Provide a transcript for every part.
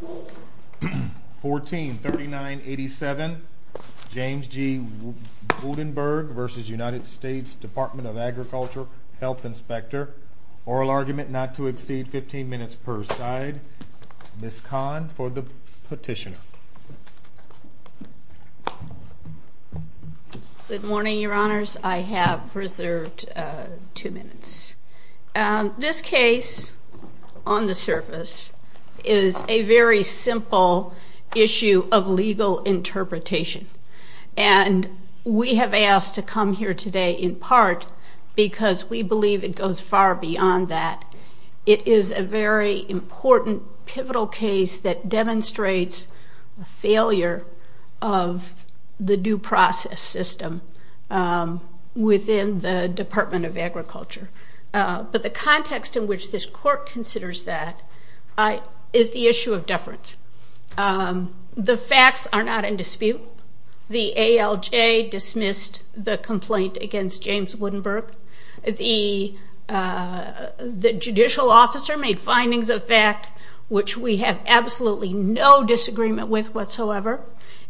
143987 James G. Woudenberg v. United States Department of Agriculture Health Inspector Oral Argument Not to Exceed 15 Minutes per Side Ms. Kahn for the petitioner Good morning, your honors. I have reserved two minutes. This case, on the surface, is a very simple issue of legal interpretation, and we have asked to come here today in part because we believe it goes far beyond that. It is a very important, pivotal case that demonstrates the failure of the due process system within the Department of Agriculture. But the context in which this court considers that is the issue of deference. The facts are not in dispute. The ALJ dismissed the complaint against James Woudenberg. The judicial officer made findings of fact which we have absolutely no disagreement with whatsoever.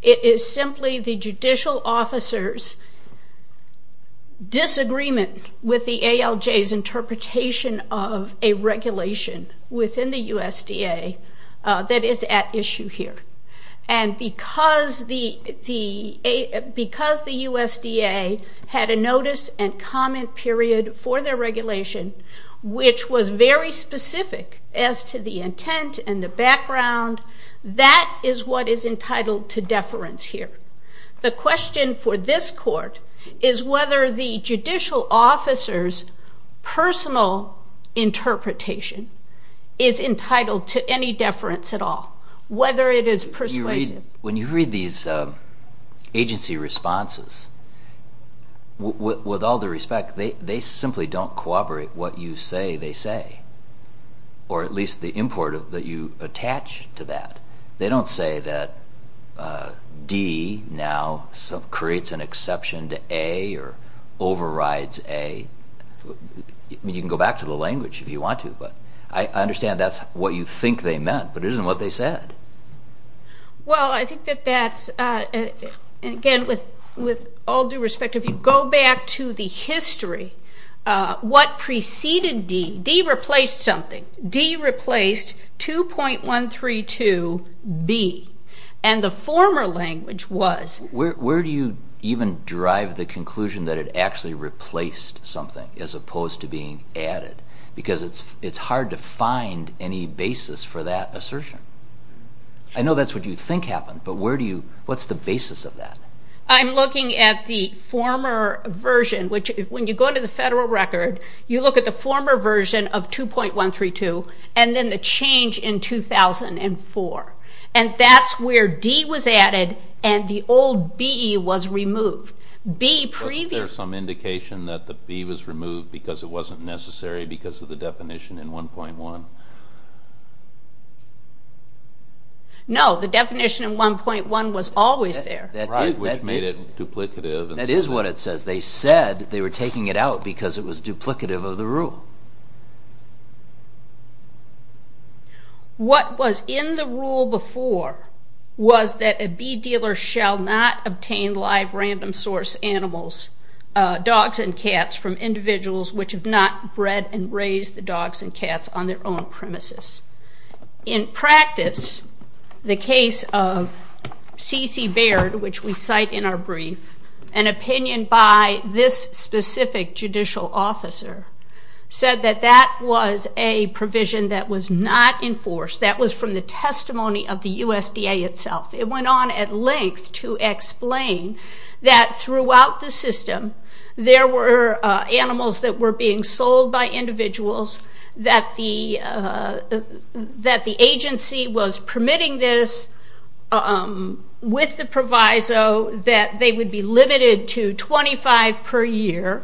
It is simply the judicial officer's disagreement with the ALJ's interpretation of a regulation within the USDA that is at issue here. And because the USDA had a notice and comment period for their regulation, which was very The question for this court is whether the judicial officer's personal interpretation is entitled to any deference at all, whether it is persuasive. When you read these agency responses, with all due respect, they simply don't corroborate what you say they say, or at least the import that you attach to that. They don't say that D now creates an exception to A or overrides A. I mean, you can go back to the language if you want to, but I understand that's what you think they meant, but it isn't what they said. Well, I think that that's, again, with all due respect, if you go back to the history, what preceded D, D replaced something. D replaced 2.132B, and the former language was... Where do you even drive the conclusion that it actually replaced something as opposed to being added? Because it's hard to find any basis for that assertion. I know that's what you think happened, but where do you, what's the basis of that? I'm looking at the former version, which, when you go to the federal record, you look at the former version of 2.132, and then the change in 2004, and that's where D was added and the old B was removed. B previously... Was there some indication that the B was removed because it wasn't necessary because of the definition in 1.1? No, the definition in 1.1 was always there. Right, which made it duplicative. That is what it says. They said they were taking it out because it was duplicative of the rule. What was in the rule before was that a bee dealer shall not obtain live random source animals, dogs and cats, from individuals which have not bred and raised the dogs and cats on their own premises. In practice, the case of Cece Baird, which we cite in our brief, an opinion by this specific judicial officer said that that was a provision that was not enforced. That was from the testimony of the USDA itself. It went on at length to explain that throughout the system, there were animals that were being that the agency was permitting this with the proviso that they would be limited to 25 per year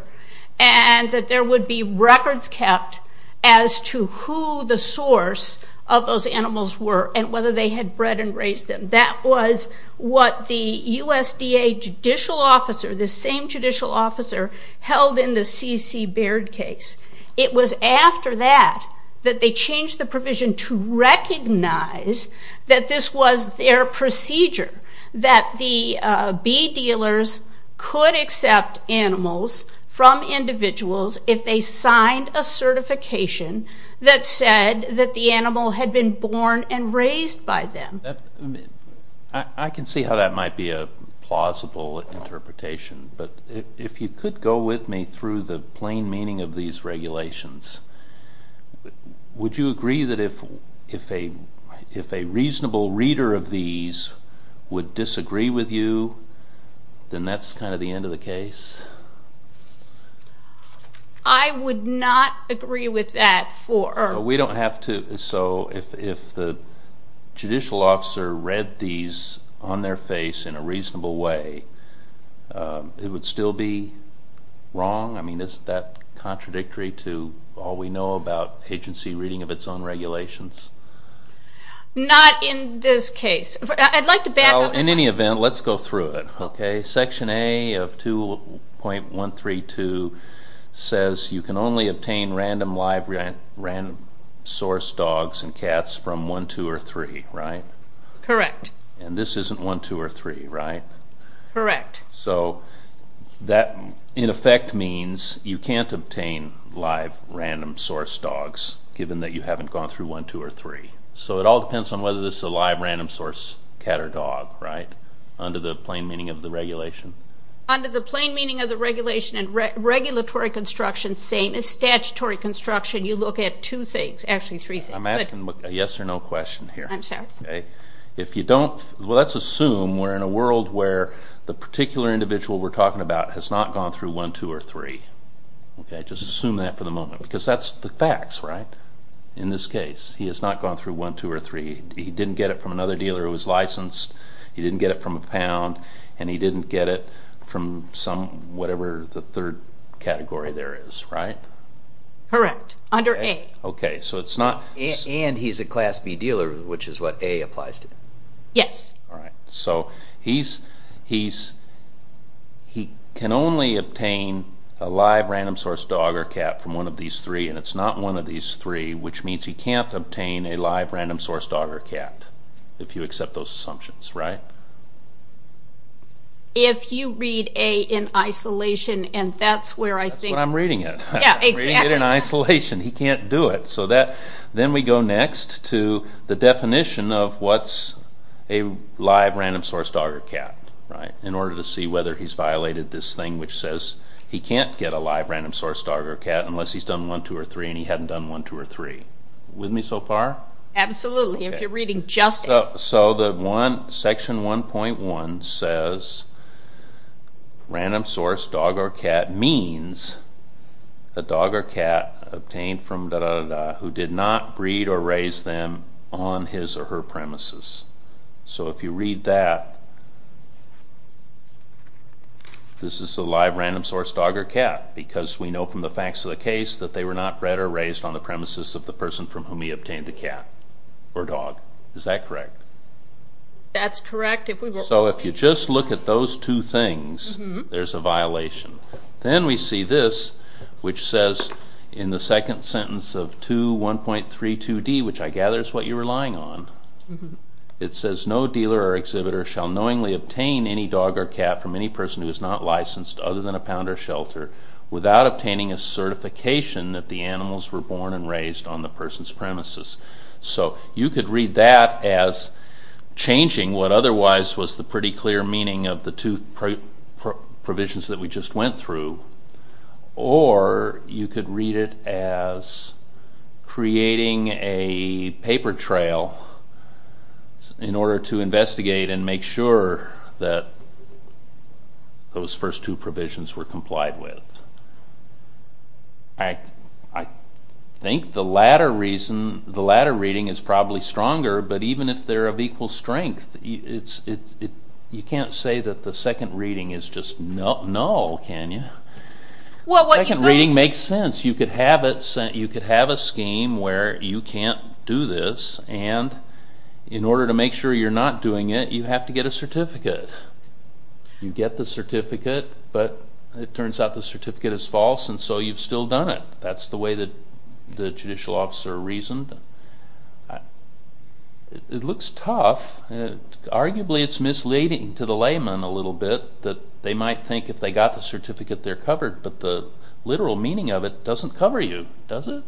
and that there would be records kept as to who the source of those animals were and whether they had bred and raised them. That was what the USDA judicial officer, the same judicial officer, held in the Cece Baird case. It was after that that they changed the provision to recognize that this was their procedure, that the bee dealers could accept animals from individuals if they signed a certification that said that the animal had been born and raised by them. I can see how that might be a plausible interpretation, but if you could go with me through the plain meaning of these regulations, would you agree that if a reasonable reader of these would disagree with you, then that's kind of the end of the case? I would not agree with that for... We don't have to... So if the judicial officer read these on their face in a reasonable way, it would still be wrong? I mean, isn't that contradictory to all we know about agency reading of its own regulations? Not in this case. I'd like to back up... In any event, let's go through it, okay? Section A of 2.132 says you can only obtain random live, random source dogs and cats from 1, 2, or 3, right? Correct. And this isn't 1, 2, or 3, right? Correct. So that, in effect, means you can't obtain live, random source dogs, given that you haven't gone through 1, 2, or 3. So it all depends on whether this is a live, random source cat or dog, right? Under the plain meaning of the regulation. Under the plain meaning of the regulation and regulatory construction, same as statutory construction, you look at two things, actually three things. I'm asking a yes or no question here. I'm sorry. If you don't... Well, let's assume we're in a world where the particular individual we're talking about has not gone through 1, 2, or 3, okay? Just assume that for the moment, because that's the facts, right? In this case, he has not gone through 1, 2, or 3. He didn't get it from another dealer who was licensed, he didn't get it from a pound, and he didn't get it from some, whatever the third category there is, right? Correct. Under A. Okay. So it's not... And he's a Class B dealer, which is what A applies to. Yes. All right. So he can only obtain a live, random source dog or cat from one of these three, and it's not one of these three, which means he can't obtain a live, random source dog or cat, if you accept those assumptions, right? If you read A in isolation, and that's where I think... That's what I'm reading it. Yeah, exactly. I'm reading it in isolation. He can't do it. Okay. So then we go next to the definition of what's a live, random source dog or cat, right? In order to see whether he's violated this thing which says he can't get a live, random source dog or cat unless he's done 1, 2, or 3, and he hadn't done 1, 2, or 3. With me so far? Absolutely. If you're reading just... So the one, section 1.1 says, random source dog or cat means a dog or cat obtained from who did not breed or raise them on his or her premises. So if you read that, this is a live, random source dog or cat, because we know from the facts of the case that they were not bred or raised on the premises of the person from whom he obtained the cat or dog. Is that correct? That's correct. So if you just look at those two things, there's a violation. Then we see this, which says in the second sentence of 2.1.32d, which I gather is what you're relying on, it says, no dealer or exhibitor shall knowingly obtain any dog or cat from any person who is not licensed other than a pound or shelter without obtaining a certification that the animals were born and raised on the person's premises. So you could read that as changing what otherwise was the pretty clear meaning of the two provisions that we just went through, or you could read it as creating a paper trail in order to investigate and make sure that those first two provisions were complied with. I think the latter reason, the latter reading is probably stronger, but even if they're of equal strength, you can't say that the second reading is just null, can you? The second reading makes sense. You could have a scheme where you can't do this, and in order to make sure you're not doing it, you have to get a certificate. You get the certificate, but it turns out the certificate is false, and so you've still done it. That's the way that the judicial officer reasoned. It looks tough. Arguably, it's misleading to the layman a little bit that they might think if they got the certificate, they're covered, but the literal meaning of it doesn't cover you, does it?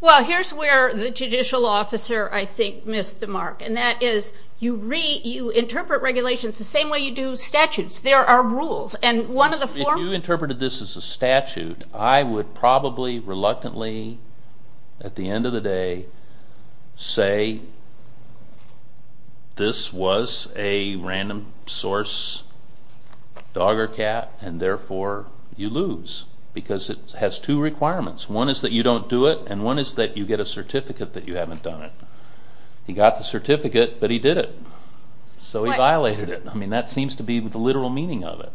Well, here's where the judicial officer, I think, missed the mark, and that is you interpret regulations the same way you do statutes. There are rules. If you interpreted this as a statute, I would probably reluctantly at the end of the day say, this was a random source dog or cat, and therefore, you lose, because it has two requirements. One is that you don't do it, and one is that you get a certificate that you haven't done it. He got the certificate, but he did it, so he violated it. That seems to be the literal meaning of it.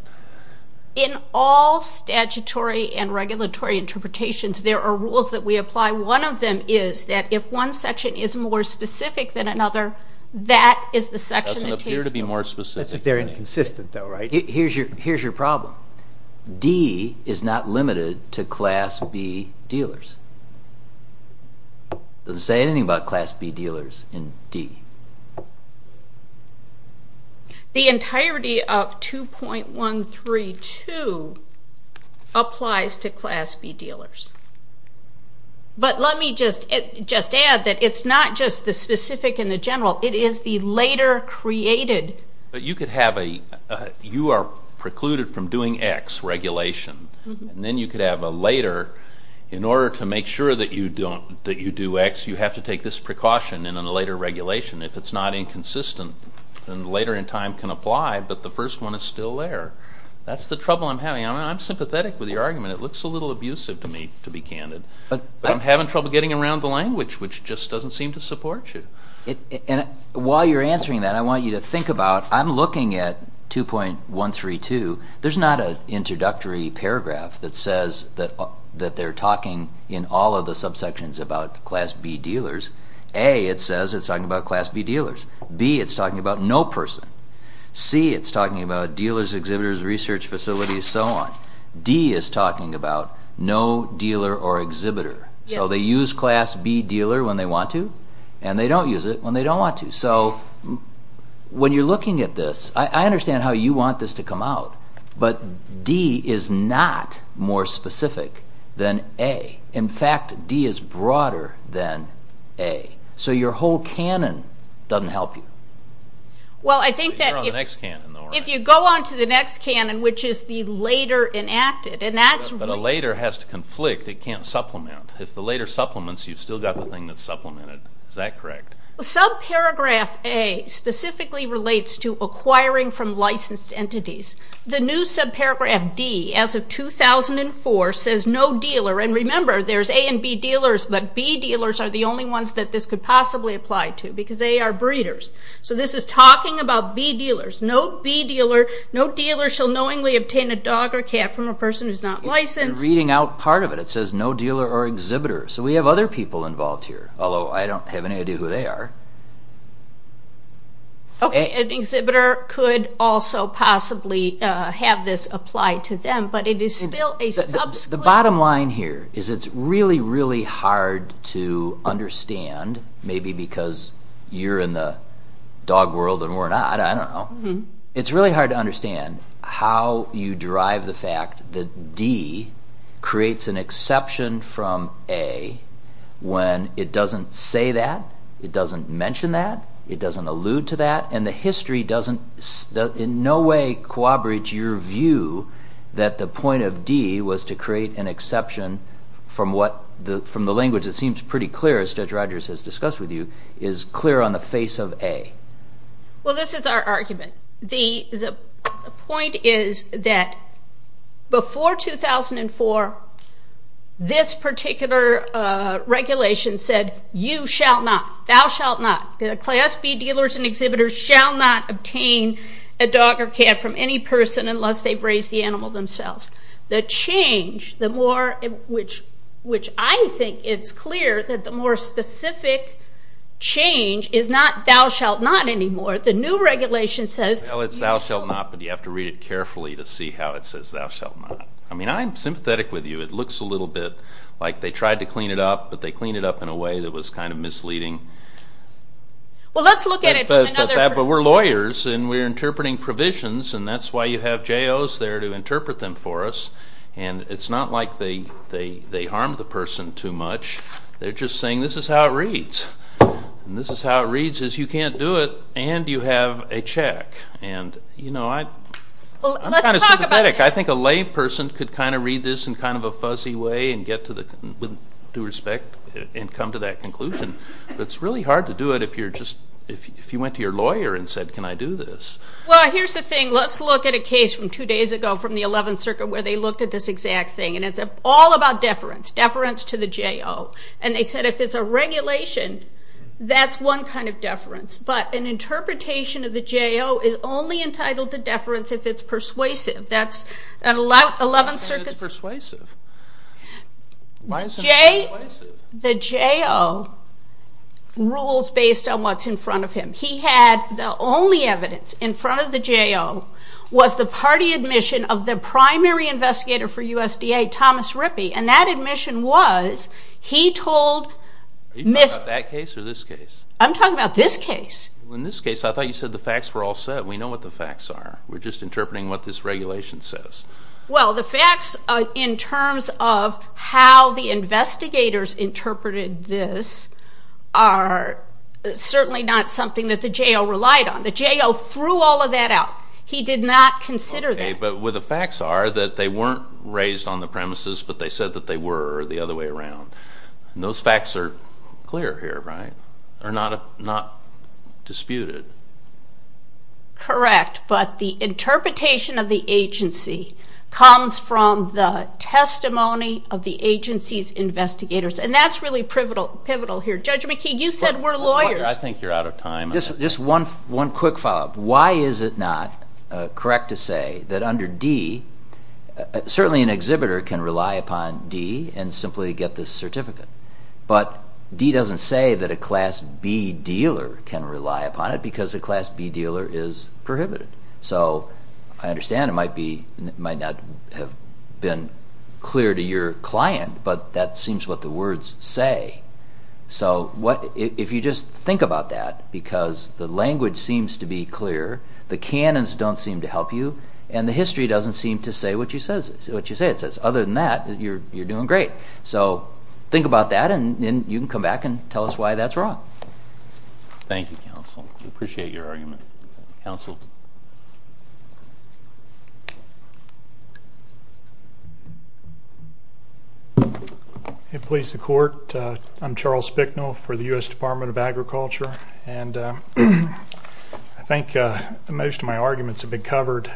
In all statutory and regulatory interpretations, there are rules that we apply. One of them is that if one section is more specific than another, that is the section that takes the money. That doesn't appear to be more specific. That's if they're inconsistent, though, right? Here's your problem. D is not limited to Class B dealers. It doesn't say anything about Class B dealers in D. The entirety of 2.132 applies to Class B dealers, but let me just add that it's not just the specific and the general. It is the later created. You are precluded from doing X regulation, and then you could have a later. In order to make sure that you do X, you have to take this precaution in a later regulation if it's not inconsistent, and later in time can apply, but the first one is still there. That's the trouble I'm having. I'm sympathetic with your argument. It looks a little abusive to me, to be candid, but I'm having trouble getting around the language, which just doesn't seem to support you. While you're answering that, I want you to think about, I'm looking at 2.132. There's not an introductory paragraph that says that they're talking in all of the subsections about Class B dealers. A, it says it's talking about Class B dealers. B, it's talking about no person. C, it's talking about dealers, exhibitors, research facilities, so on. D is talking about no dealer or exhibitor. They use Class B dealer when they want to, and they don't use it when they don't want to. When you're looking at this, I understand how you want this to come out, but D is not more specific than A. In fact, D is broader than A, so your whole canon doesn't help you. I think that if you go on to the next canon, which is the later enacted, and that's- But a later has to conflict. It can't supplement. If the later supplements, you've still got the thing that's supplemented. Is that correct? Subparagraph A specifically relates to acquiring from licensed entities. The new subparagraph, D, as of 2004, says no dealer. Remember, there's A and B dealers, but B dealers are the only ones that this could possibly apply to, because they are breeders. This is talking about B dealers. No B dealer, no dealer shall knowingly obtain a dog or cat from a person who's not licensed. You're reading out part of it. It says no dealer or exhibitor. We have other people involved here, although I don't have any idea who they are. Okay, an exhibitor could also possibly have this apply to them, but it is still a subsequent- The bottom line here is it's really, really hard to understand, maybe because you're in the dog world and we're not, I don't know. It's really hard to understand how you derive the fact that D creates an exception from A when it doesn't say that, it doesn't mention that, it doesn't allude to that, and the history doesn't in no way corroborate your view that the point of D was to create an exception from the language that seems pretty clear, as Judge Rogers has discussed with you, is clear on the face of A. Well, this is our argument. The point is that before 2004, this particular regulation said you shall not, thou shalt not, the class B dealers and exhibitors shall not obtain a dog or cat from any person unless they've raised the animal themselves. The change, which I think it's clear that the more specific change is not thou shalt not anymore. The new regulation says- Well, it's thou shalt not, but you have to read it carefully to see how it says thou shalt not. I mean, I'm sympathetic with you. It looks a little bit like they tried to clean it up, but they cleaned it up in a way that was kind of misleading. Well, let's look at it from another- But we're lawyers and we're interpreting provisions, and that's why you have JOs there to interpret them for us, and it's not like they harm the person too much. They're just saying this is how it reads, and this is how it reads is you can't do it and you have a check. And, you know, I'm kind of sympathetic. I think a layperson could kind of read this in kind of a fuzzy way and get to the, with due respect, and come to that conclusion. It's really hard to do it if you're just, if you went to your lawyer and said, can I do this? Well, here's the thing. Let's look at a case from two days ago from the 11th Circuit where they looked at this exact thing, and it's all about deference, deference to the JO. And they said if it's a regulation, that's one kind of deference, but an interpretation of the JO is only entitled to deference if it's persuasive. That's 11th Circuit's- Why is it not persuasive? The JO rules based on what's in front of him. He had the only evidence in front of the JO was the party admission of the primary investigator for USDA, Thomas Rippey, and that admission was he told- Are you talking about that case or this case? I'm talking about this case. In this case, I thought you said the facts were all set. We know what the facts are. We're just interpreting what this regulation says. Well, the facts in terms of how the investigators interpreted this are certainly not something that the JO relied on. The JO threw all of that out. He did not consider that. Okay, but where the facts are that they weren't raised on the premises, but they said that they were the other way around. Those facts are clear here, right? Are not disputed. Correct, but the interpretation of the agency comes from the testimony of the agency's investigators, and that's really pivotal here. Judge McKeague, you said we're lawyers. I think you're out of time. Just one quick follow-up. Why is it not correct to say that under D, certainly an exhibitor can rely upon D and simply get this certificate, but D doesn't say that a class B dealer can rely upon it because a class B dealer is prohibited. So I understand it might not have been clear to your client, but that seems what the words say. So if you just think about that, because the language seems to be clear, the canons don't seem to help you, and the history doesn't seem to say what you say it says. Other than that, you're doing great. So think about that, and you can come back and tell us why that's wrong. Thank you, counsel. We appreciate your argument. Counsel. It please the court, I'm Charles Spicknall for the U.S. Department of Agriculture, and I think most of my arguments have been covered.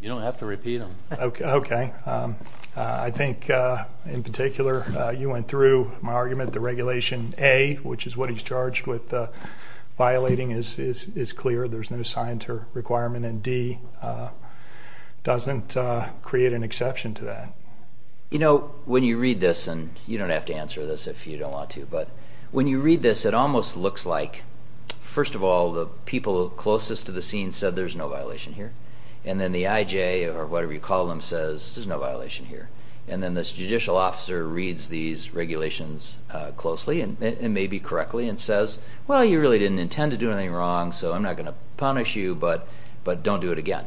You don't have to repeat them. Okay. I think in particular, you went through my argument, the Regulation A, which is what D doesn't create an exception to that. You know, when you read this, and you don't have to answer this if you don't want to, but when you read this, it almost looks like, first of all, the people closest to the scene said there's no violation here. And then the IJ, or whatever you call them, says there's no violation here. And then this judicial officer reads these regulations closely, and maybe correctly, and says, well, you really didn't intend to do anything wrong, so I'm not going to punish you, but don't do it again.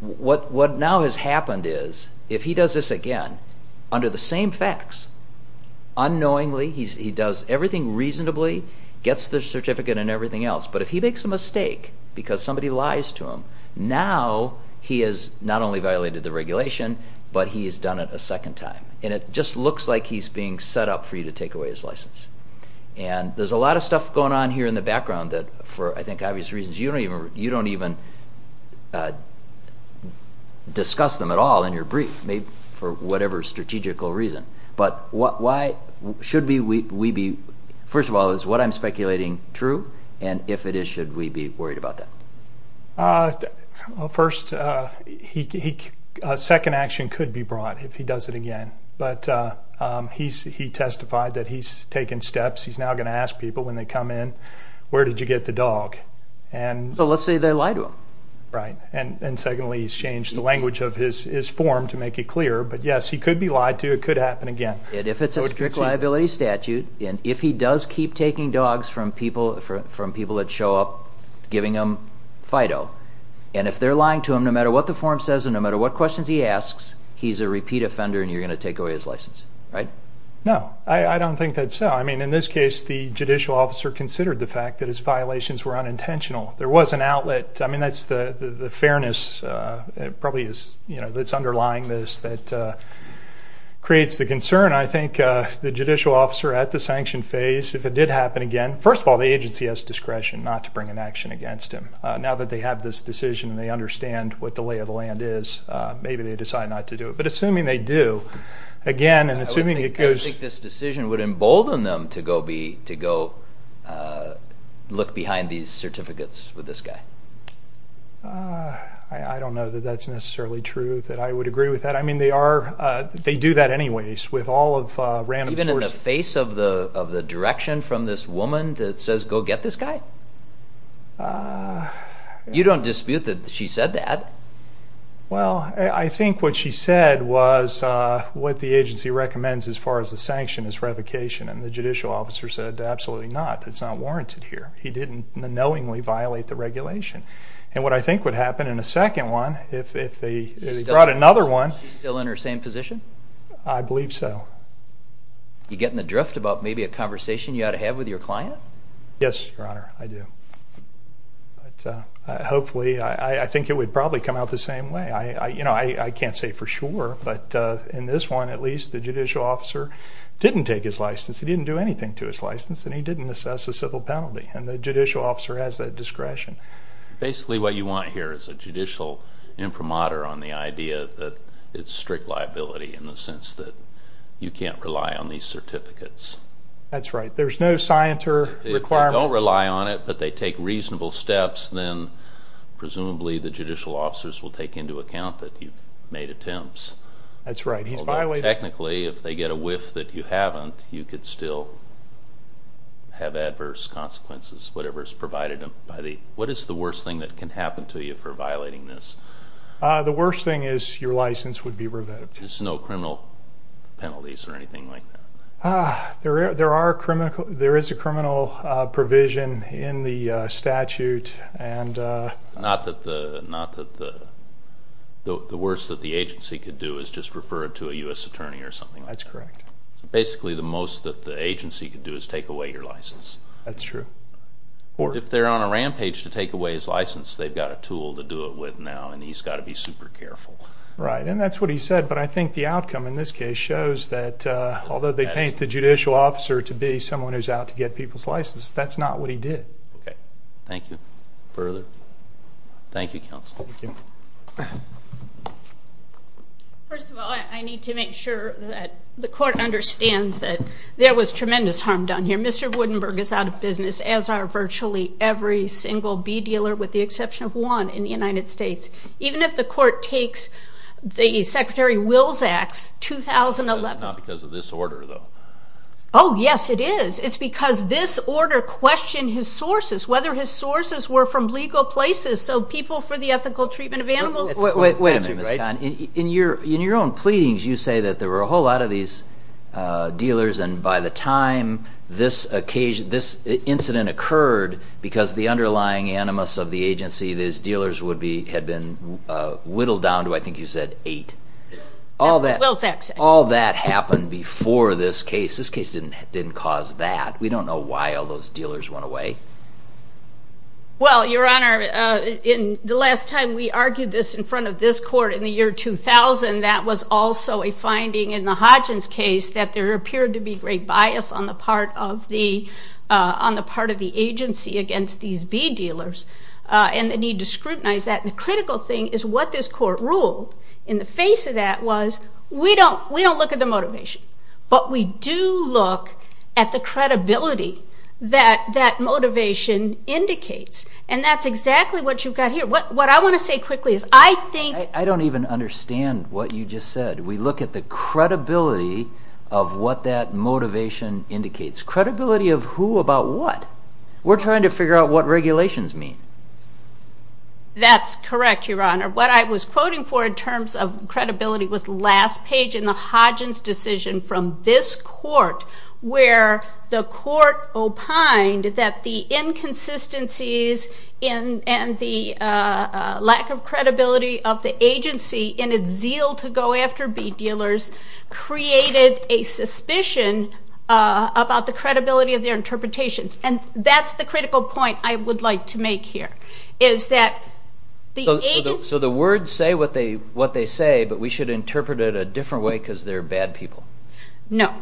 What now has happened is, if he does this again, under the same facts, unknowingly, he does everything reasonably, gets the certificate and everything else, but if he makes a mistake because somebody lies to him, now he has not only violated the regulation, but he has done it a second time. And it just looks like he's being set up for you to take away his license. And there's a lot of stuff going on here in the background that, for I think obvious reasons, you don't even discuss them at all in your brief, maybe for whatever strategical reason. But why should we be, first of all, is what I'm speculating true? And if it is, should we be worried about that? Well, first, a second action could be brought if he does it again. But he testified that he's taken steps, he's now going to ask people when they come in, where did you get the dog? And so let's say they lie to him. Right. And secondly, he's changed the language of his form to make it clearer. But yes, he could be lied to. It could happen again. And if it's a strict liability statute, and if he does keep taking dogs from people that show up, giving them FIDO, and if they're lying to him, no matter what the form says and no matter what questions he asks, he's a repeat offender and you're going to take away his license. Right? No. I don't think that's so. I mean, in this case, the judicial officer considered the fact that his violations were unintentional. There was an outlet. I mean, that's the fairness probably is, you know, that's underlying this, that creates the concern. I think the judicial officer at the sanction phase, if it did happen again, first of all, the agency has discretion not to bring an action against him. Now that they have this decision and they understand what the lay of the land is, maybe they decide not to do it. But assuming they do, again, and assuming it goes... to go be, to go look behind these certificates with this guy. I don't know that that's necessarily true, that I would agree with that. I mean, they are, they do that anyways, with all of random sources. Even in the face of the direction from this woman that says, go get this guy? You don't dispute that she said that. Well, I think what she said was what the agency recommends as far as the sanction is revocation and the judicial officer said, absolutely not, it's not warranted here. He didn't knowingly violate the regulation. And what I think would happen in a second one, if they brought another one... Is she still in her same position? I believe so. You getting the drift about maybe a conversation you ought to have with your client? Yes, your honor, I do. But hopefully, I think it would probably come out the same way. I, you know, I can't say for sure, but in this one, at least, the judicial officer didn't take his license, he didn't do anything to his license and he didn't assess a civil penalty and the judicial officer has that discretion. Basically what you want here is a judicial imprimatur on the idea that it's strict liability in the sense that you can't rely on these certificates. That's right. There's no science or requirement. If they don't rely on it, but they take reasonable steps, then presumably the judicial officers will take into account that you've made attempts. That's right. Technically, if they get a whiff that you haven't, you could still have adverse consequences, whatever is provided by the... What is the worst thing that can happen to you for violating this? The worst thing is your license would be revetted. There's no criminal penalties or anything like that? There are criminal... There is a criminal provision in the statute and... Not that the worst that the agency could do is just refer it to a U.S. attorney or something like that. That's correct. Basically the most that the agency could do is take away your license. That's true. If they're on a rampage to take away his license, they've got a tool to do it with now and he's got to be super careful. Right, and that's what he said, but I think the outcome in this case shows that although they paint the judicial officer to be someone who's out to get people's licenses, that's not what he did. Okay, thank you. Further? Thank you, counsel. Thank you. First of all, I need to make sure that the court understands that there was tremendous harm done here. Mr. Woodenberg is out of business, as are virtually every single bee dealer with the exception of one in the United States. Even if the court takes the Secretary Wills Act's 2011... That's not because of this order, though. Oh, yes it is. It's because this order questioned his sources. Whether his sources were from legal places, so people for the ethical treatment of animals... Wait a minute, Ms. Cahn. In your own pleadings, you say that there were a whole lot of these dealers and by the time this incident occurred, because the underlying animus of the agency, these dealers had been whittled down to, I think you said, eight. All that happened before this case. This case didn't cause that. We don't know why all those dealers went away. Well, Your Honor, the last time we argued this in front of this court in the year 2000, that was also a finding in the Hodgins case that there appeared to be great bias on the part of the agency against these bee dealers and the need to scrutinize that. The critical thing is what this court ruled in the face of that was, we don't look at the motivation, but we do look at the credibility that that motivation indicates. That's exactly what you've got here. What I want to say quickly is I think... I don't even understand what you just said. We look at the credibility of what that motivation indicates. Credibility of who about what? We're trying to figure out what regulations mean. That's correct, Your Honor. What I was quoting for in terms of credibility was last page in the Hodgins decision from this court where the court opined that the inconsistencies and the lack of credibility of the agency in its zeal to go after bee dealers created a suspicion about the credibility of their interpretations. That's the critical point I would like to make here, is that the agency... The words say what they say, but we should interpret it a different way because they're bad people. No.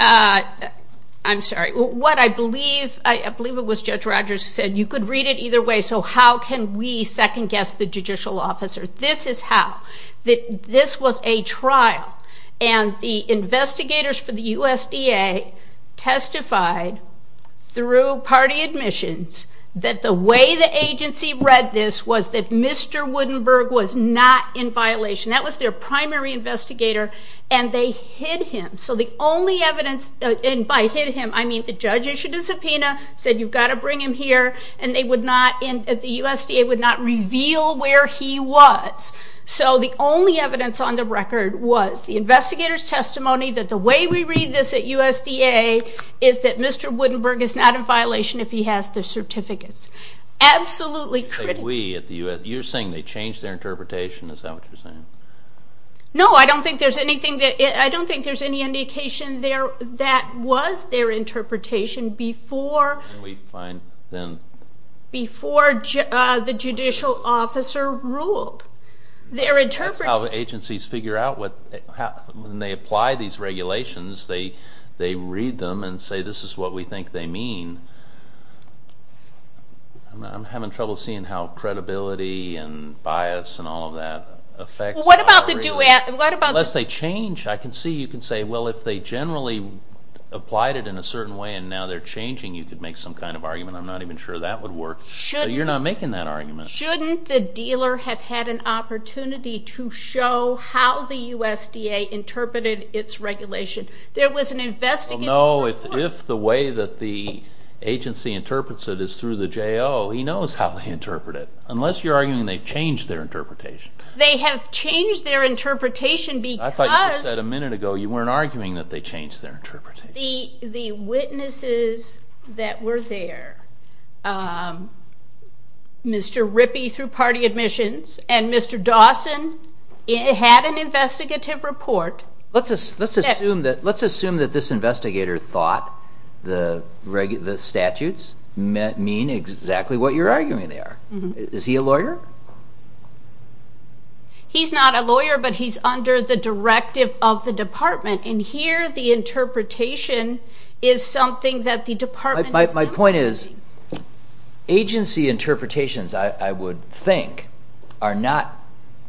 I'm sorry. What I believe... I believe it was Judge Rogers who said, you could read it either way, so how can we second guess the judicial officer? This is how. This was a trial, and the investigators for the USDA testified through party admissions that the way the agency read this was that Mr. Woodenberg was not in violation. That was their primary investigator, and they hid him. The only evidence, and by hid him, I mean the judge issued a subpoena, said you've got to bring him here, and the USDA would not reveal where he was. The only evidence on the record was the investigator's testimony that the way we read this at USDA is that Mr. Woodenberg is not in violation if he has the certificates. Absolutely critical. We at the USDA... You're saying they changed their interpretation? Is that what you're saying? No. I don't think there's anything... I don't think there's any indication there that was their interpretation before the judicial officer ruled. Their interpretation... That's how agencies figure out when they apply these regulations. They read them and say this is what we think they mean. I'm having trouble seeing how credibility and bias and all of that affects... What about the... Unless they change, I can see you can say, well, if they generally applied it in a certain way and now they're changing, you could make some kind of argument. I'm not even sure that would work, but you're not making that argument. Shouldn't the dealer have had an opportunity to show how the USDA interpreted its regulation? There was an investigator... Well, no. If the way that the agency interprets it is through the J.O., he knows how they interpret it, unless you're arguing they've changed their interpretation. They have changed their interpretation because... I thought you just said a minute ago you weren't arguing that they changed their interpretation. The witnesses that were there, Mr. Rippey through party admissions and Mr. Dawson had an investigative report... Let's assume that this investigator thought the statutes mean exactly what you're arguing they are. Is he a lawyer? He's not a lawyer, but he's under the directive of the department. And here the interpretation is something that the department is... My point is agency interpretations, I would think, are not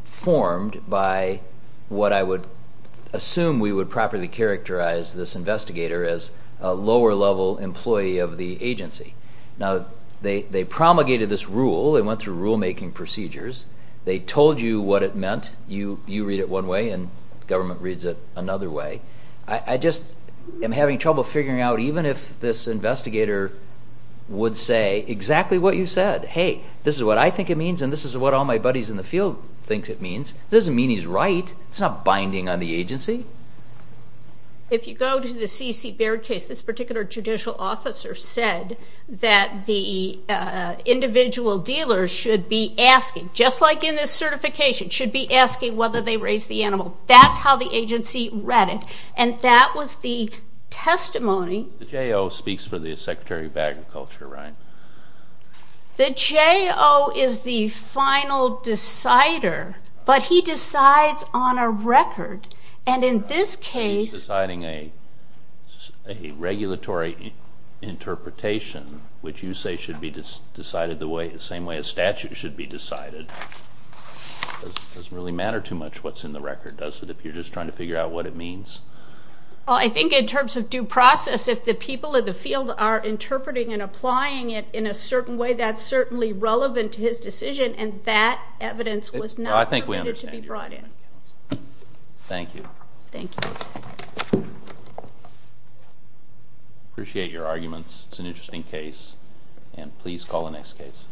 formed by what I would assume we would properly characterize this investigator as a lower level employee of the agency. Now they promulgated this rule, they went through rulemaking procedures, they told you what it meant, you read it one way and government reads it another way. I just am having trouble figuring out even if this investigator would say exactly what you said. Hey, this is what I think it means and this is what all my buddies in the field thinks it means. It doesn't mean he's right. It's not binding on the agency. If you go to the C.C. Baird case, this particular judicial officer said that the individual dealers should be asking, just like in this certification, should be asking whether they raise the animal. That's how the agency read it. And that was the testimony... The J.O. speaks for the Secretary of Agriculture, right? The J.O. is the final decider, but he decides on a record. And in this case... He's deciding a regulatory interpretation, which you say should be decided the way it's the same way a statute should be decided. It doesn't really matter too much what's in the record, does it, if you're just trying to figure out what it means? I think in terms of due process, if the people in the field are interpreting and applying it in a certain way, that's certainly relevant to his decision and that evidence was not permitted to be brought in. Thank you. Thank you. I appreciate your arguments. It's an interesting case, and please call the next case.